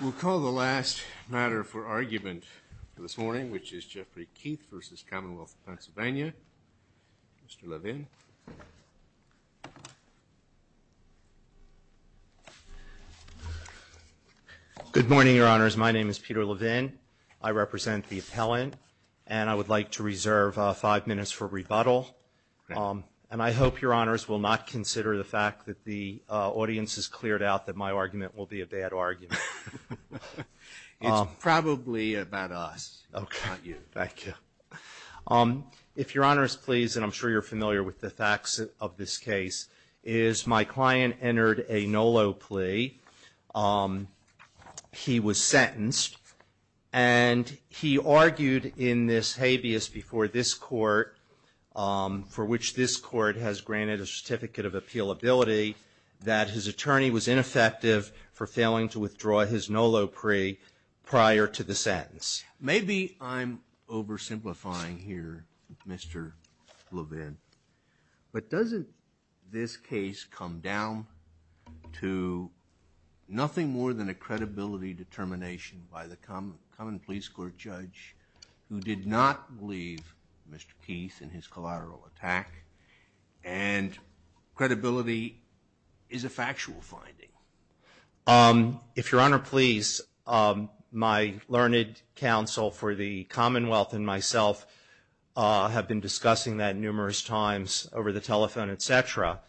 We'll call the last matter for argument this morning, which is Jeffrey Keith v. Commonwealth PA. Mr. Levin. Good morning, Your Honors. My name is Peter Levin. I represent the appellant, and I would like to reserve five minutes for rebuttal. And I hope Your Honors will not consider the fact that the audience has cleared out that my argument will be a bad argument. It's probably about us, not you. Thank you. If Your Honors please, and I'm sure you're familiar with the facts of this case, is my client entered a NOLO plea. He was sentenced, and he argued in this habeas before this court, for which this court has granted a certificate of appealability, that his attorney was ineffective for failing to withdraw his NOLO plea prior to the sentence. Maybe I'm oversimplifying here, Mr. Levin, but doesn't this case come down to nothing more than a credibility determination by the common police court judge who did not believe Mr. Keith in his collateral attack, and credibility is a factual finding? If Your Honor please, my learned counsel for the Commonwealth and myself have been discussing that numerous times over the telephone, etc.,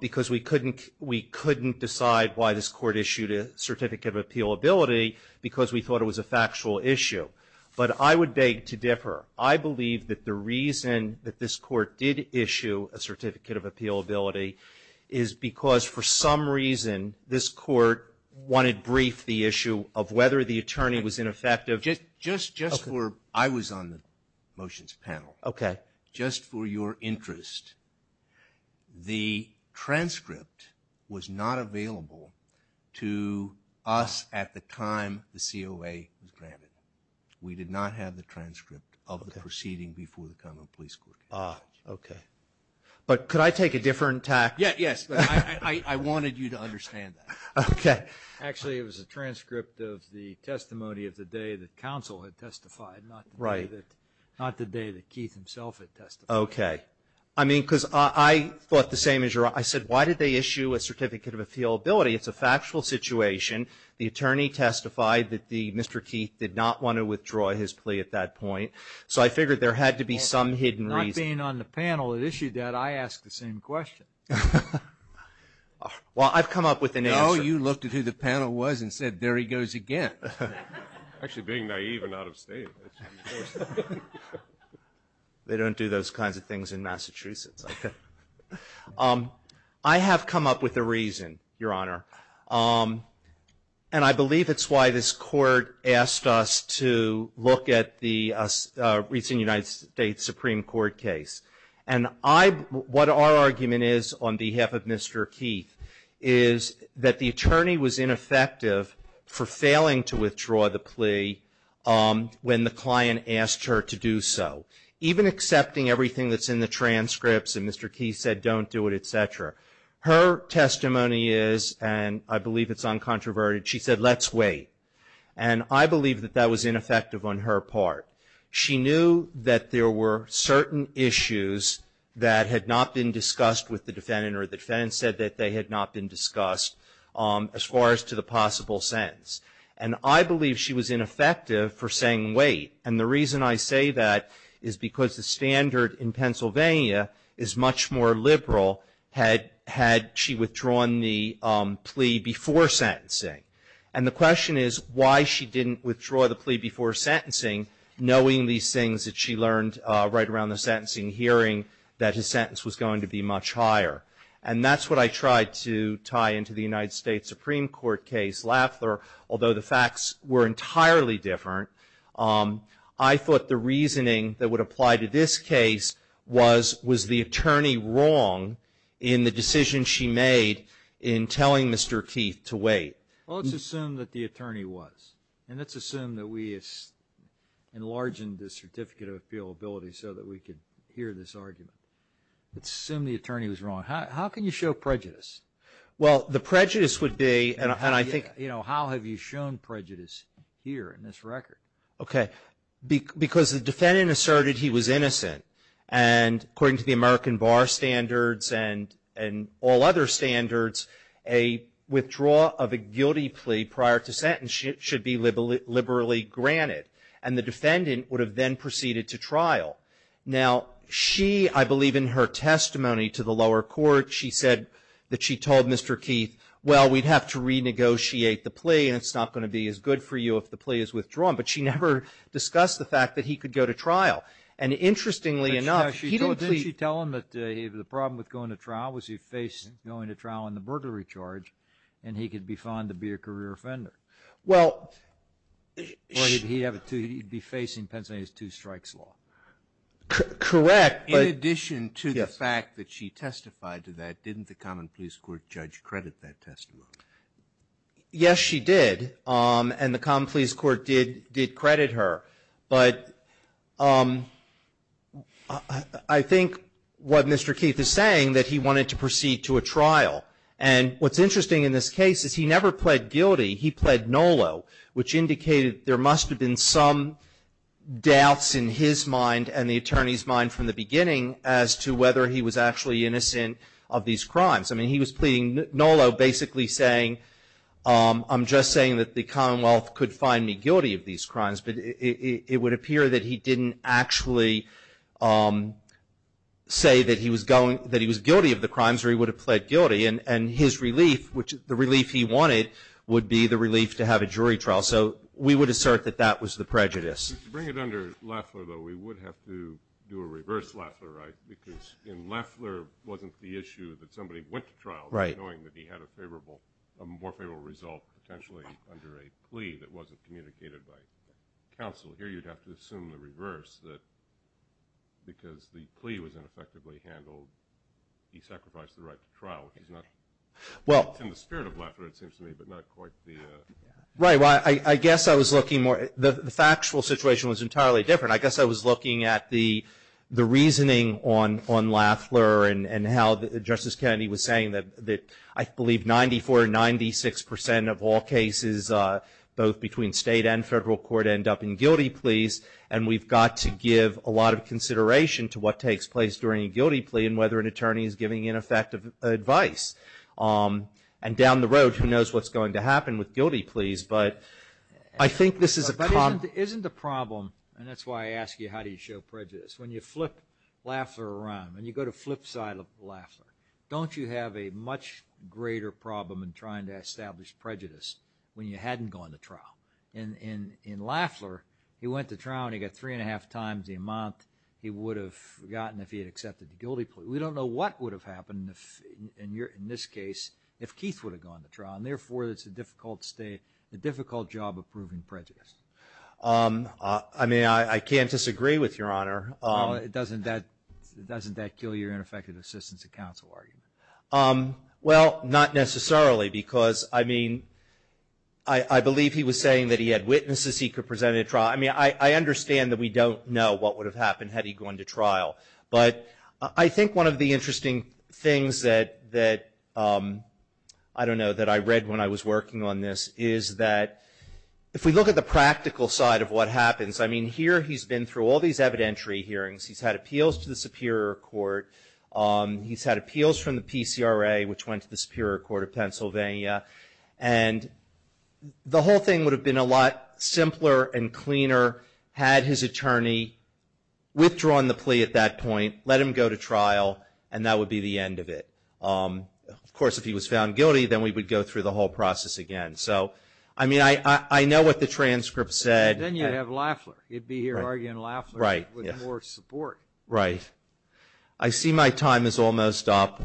because we couldn't decide why this court issued a certificate of appealability because we thought it was a factual issue. But I would beg to differ. I believe that the reason that this court did issue a certificate of appealability is because, for some reason, this court wanted brief the issue of whether the attorney was ineffective. Just for, I was on the motions panel. Okay. Just for your interest, the transcript was not available to us at the time the COA was granted. We did not have the transcript of the proceeding before the Commonwealth Police Court. Ah, okay. But could I take a different tack? Yes. I wanted you to understand that. Okay. Actually, it was a transcript of the testimony of the day that counsel had testified, not the day that Keith himself had testified. Okay. I mean, because I thought the same as Your Honor. I said, why did they issue a certificate of appealability? It's a factual situation. The attorney testified that Mr. Keith did not want to withdraw his plea at that point. So I figured there had to be some hidden reason. Not being on the panel that issued that, I asked the same question. Well, I've come up with an answer. No, you looked at who the panel was and said, there he goes again. Actually, being naive and out of state. They don't do those kinds of things in Massachusetts. I have come up with a reason, Your Honor. And I believe it's why this court asked us to look at the recent United States Supreme Court case. And what our argument is on behalf of Mr. Keith is that the attorney was ineffective for failing to withdraw the plea when the client asked her to do so. Even accepting everything that's in the transcripts and Mr. Keith said don't do it, et cetera. Her testimony is, and I believe it's uncontroverted, she said let's wait. And I believe that that was ineffective on her part. She knew that there were certain issues that had not been discussed with the defendant or the defendant said that they had not been discussed as far as to the possible sentence. And I believe she was ineffective for saying wait. And the reason I say that is because the standard in Pennsylvania is much more liberal had she withdrawn the plea before sentencing. And the question is why she didn't withdraw the plea before sentencing, knowing these things that she learned right around the sentencing hearing, that his sentence was going to be much higher. And that's what I tried to tie into the United States Supreme Court case. Although the facts were entirely different, I thought the reasoning that would apply to this case was, was the attorney wrong in the decision she made in telling Mr. Keith to wait? Well, let's assume that the attorney was. And let's assume that we enlarged the certificate of appealability so that we could hear this argument. Let's assume the attorney was wrong. How can you show prejudice? Well, the prejudice would be, and I think. How have you shown prejudice here in this record? Okay. Because the defendant asserted he was innocent. And according to the American Bar Standards and all other standards, a withdrawal of a guilty plea prior to sentence should be liberally granted. And the defendant would have then proceeded to trial. Now, she, I believe in her testimony to the lower court, she said that she told Mr. Keith, well, we'd have to renegotiate the plea, and it's not going to be as good for you if the plea is withdrawn. But she never discussed the fact that he could go to trial. And interestingly enough, he didn't plead. Didn't she tell him that the problem with going to trial was he faced going to trial on the burglary charge, and he could be found to be a career offender? Well, he'd be facing Pennsylvania's two strikes law. Correct, but. In addition to the fact that she testified to that, didn't the common police court judge credit that testimony? Yes, she did. And the common police court did credit her. But I think what Mr. Keith is saying, that he wanted to proceed to a trial. And what's interesting in this case is he never pled guilty. He pled NOLO, which indicated there must have been some doubts in his mind and the attorney's mind from the beginning as to whether he was actually innocent of these crimes. I mean, he was pleading NOLO, basically saying, I'm just saying that the Commonwealth could find me guilty of these crimes. But it would appear that he didn't actually say that he was going to, that he was guilty of the crimes, or he would have pled guilty. And his relief, which the relief he wanted, would be the relief to have a jury trial. So we would assert that that was the prejudice. To bring it under Loeffler, though, we would have to do a reverse Loeffler, right? Because in Loeffler wasn't the issue that somebody went to trial knowing that he had a favorable, a more favorable result potentially under a plea that wasn't communicated by counsel. Here you'd have to assume the reverse, that because the plea was ineffectively handled, he sacrificed the right to trial, which is not in the spirit of Loeffler, it seems to me, but not quite the. Right. Well, I guess I was looking more, the factual situation was entirely different. I guess I was looking at the reasoning on Loeffler and how Justice Kennedy was saying that I believe 94 or 96 percent of all cases, both between state and federal court, end up in guilty pleas. And we've got to give a lot of consideration to what takes place during a guilty plea and whether an attorney is giving ineffective advice. And down the road, who knows what's going to happen with guilty pleas. But I think this is a common... But isn't the problem, and that's why I ask you, how do you show prejudice? When you flip Loeffler around and you go to flip side of Loeffler, don't you have a much greater problem in trying to establish prejudice when you hadn't gone to trial? In Loeffler, he went to trial and he got three and a half times the amount he would have gotten if he had accepted the guilty plea. We don't know what would have happened in this case if Keith would have gone to trial. And therefore, it's a difficult job of proving prejudice. I mean, I can't disagree with Your Honor. Well, doesn't that kill your ineffective assistance to counsel argument? Well, not necessarily because, I mean, I believe he was saying that he had witnesses he could present at trial. I mean, I understand that we don't know what would have happened had he gone to trial. But I think one of the interesting things that, I don't know, that I read when I was working on this is that, if we look at the practical side of what happens, I mean, here he's been through all these evidentiary hearings. He's had appeals to the Superior Court. He's had appeals from the PCRA, which went to the Superior Court of Pennsylvania. And the whole thing would have been a lot simpler and cleaner had his attorney withdrawn the plea at that point, let him go to trial, and that would be the end of it. Of course, if he was found guilty, then we would go through the whole process again. So, I mean, I know what the transcript said. Then you'd have Lafler. He'd be here arguing Lafler with more support. Right. I see my time is almost up.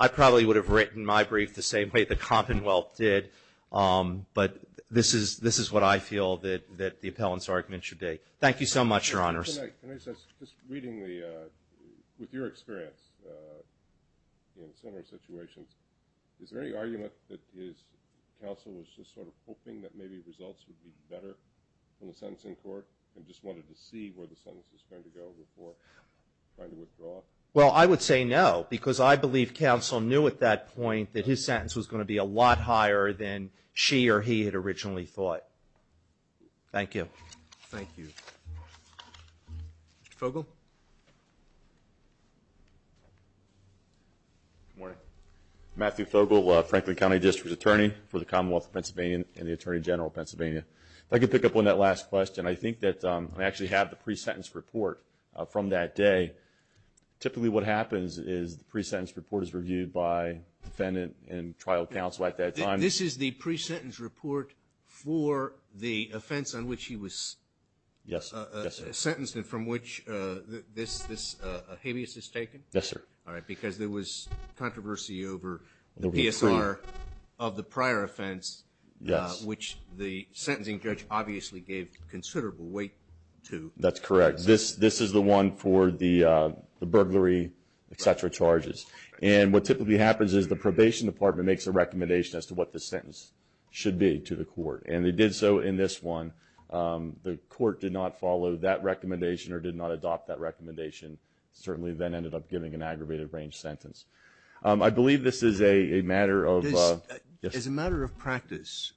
I probably would have written my brief the same way the Commonwealth did. But this is what I feel that the appellant's argument should be. Thank you so much, Your Honors. Can I just ask, just reading with your experience in similar situations, is there any argument that his counsel was just sort of hoping that maybe results would be better from the sentencing court and just wanted to see where the sentence was going to go before trying to withdraw? Well, I would say no, because I believe counsel knew at that point that his sentence was going to be a lot higher than she or he had originally thought. Thank you. Thank you. Mr. Fogle? Good morning. Matthew Fogle, Franklin County District Attorney for the Commonwealth of Pennsylvania and the Attorney General of Pennsylvania. If I could pick up on that last question. I think that I actually have the pre-sentence report from that day. Typically what happens is the pre-sentence report is reviewed by defendant and trial counsel at that time. This is the pre-sentence report for the offense on which he was sentenced and from which this habeas is taken? Yes, sir. All right, because there was controversy over the PSR of the prior offense, which the sentencing judge obviously gave considerable weight to. That's correct. This is the one for the burglary, et cetera, charges. And what typically happens is the probation department makes a recommendation as to what the sentence should be to the court. And they did so in this one. The court did not follow that recommendation or did not adopt that recommendation, certainly then ended up giving an aggravated range sentence. I believe this is a matter of – Because as a matter of practice,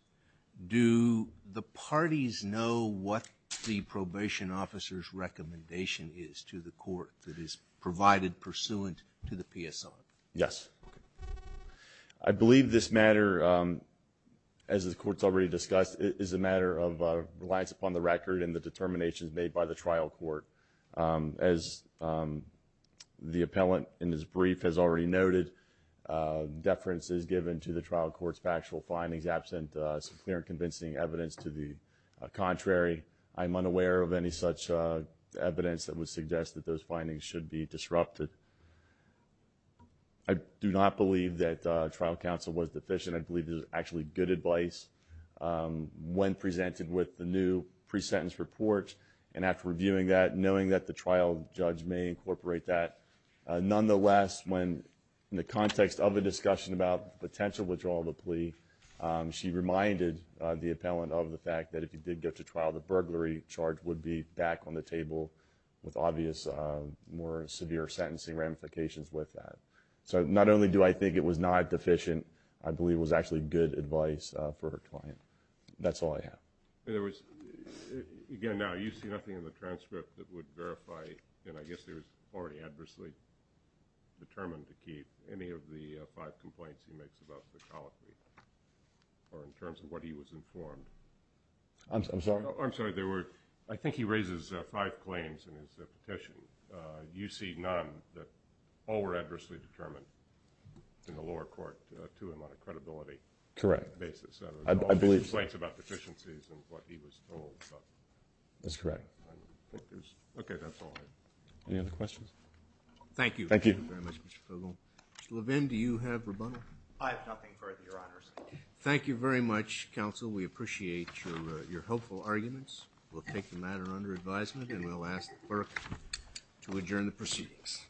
do the parties know what the probation officer's recommendation is to the court that is provided pursuant to the PSR? Yes. I believe this matter, as the court's already discussed, is a matter of reliance upon the record and the determinations made by the trial court. As the appellant in his brief has already noted, deference is given to the trial court's factual findings, absent some clear and convincing evidence to the contrary. I'm unaware of any such evidence that would suggest that those findings should be disrupted. I do not believe that trial counsel was deficient. I believe this is actually good advice when presented with the new pre-sentence report. And after reviewing that, knowing that the trial judge may incorporate that, nonetheless, when in the context of a discussion about the potential withdrawal of the plea, she reminded the appellant of the fact that if he did go to trial, the burglary charge would be back on the table with obvious more severe sentencing ramifications with that. So not only do I think it was not deficient, I believe it was actually good advice for her client. That's all I have. There was, again, now you see nothing in the transcript that would verify, and I guess it was already adversely determined to keep, any of the five complaints he makes about the toll-free or in terms of what he was informed. I'm sorry? I'm sorry. I think he raises five claims in his petition. You see none that all were adversely determined in the lower court to him on a credibility basis. Correct. I believe. All the complaints about deficiencies and what he was told. That's correct. Okay. That's all I have. Any other questions? Thank you. Thank you. Thank you very much, Mr. Fogle. Mr. Levin, do you have rebuttal? I have nothing further, Your Honors. Thank you very much, counsel. We appreciate your hopeful arguments. We'll take the matter under advisement, and we'll ask the clerk to adjourn the proceedings.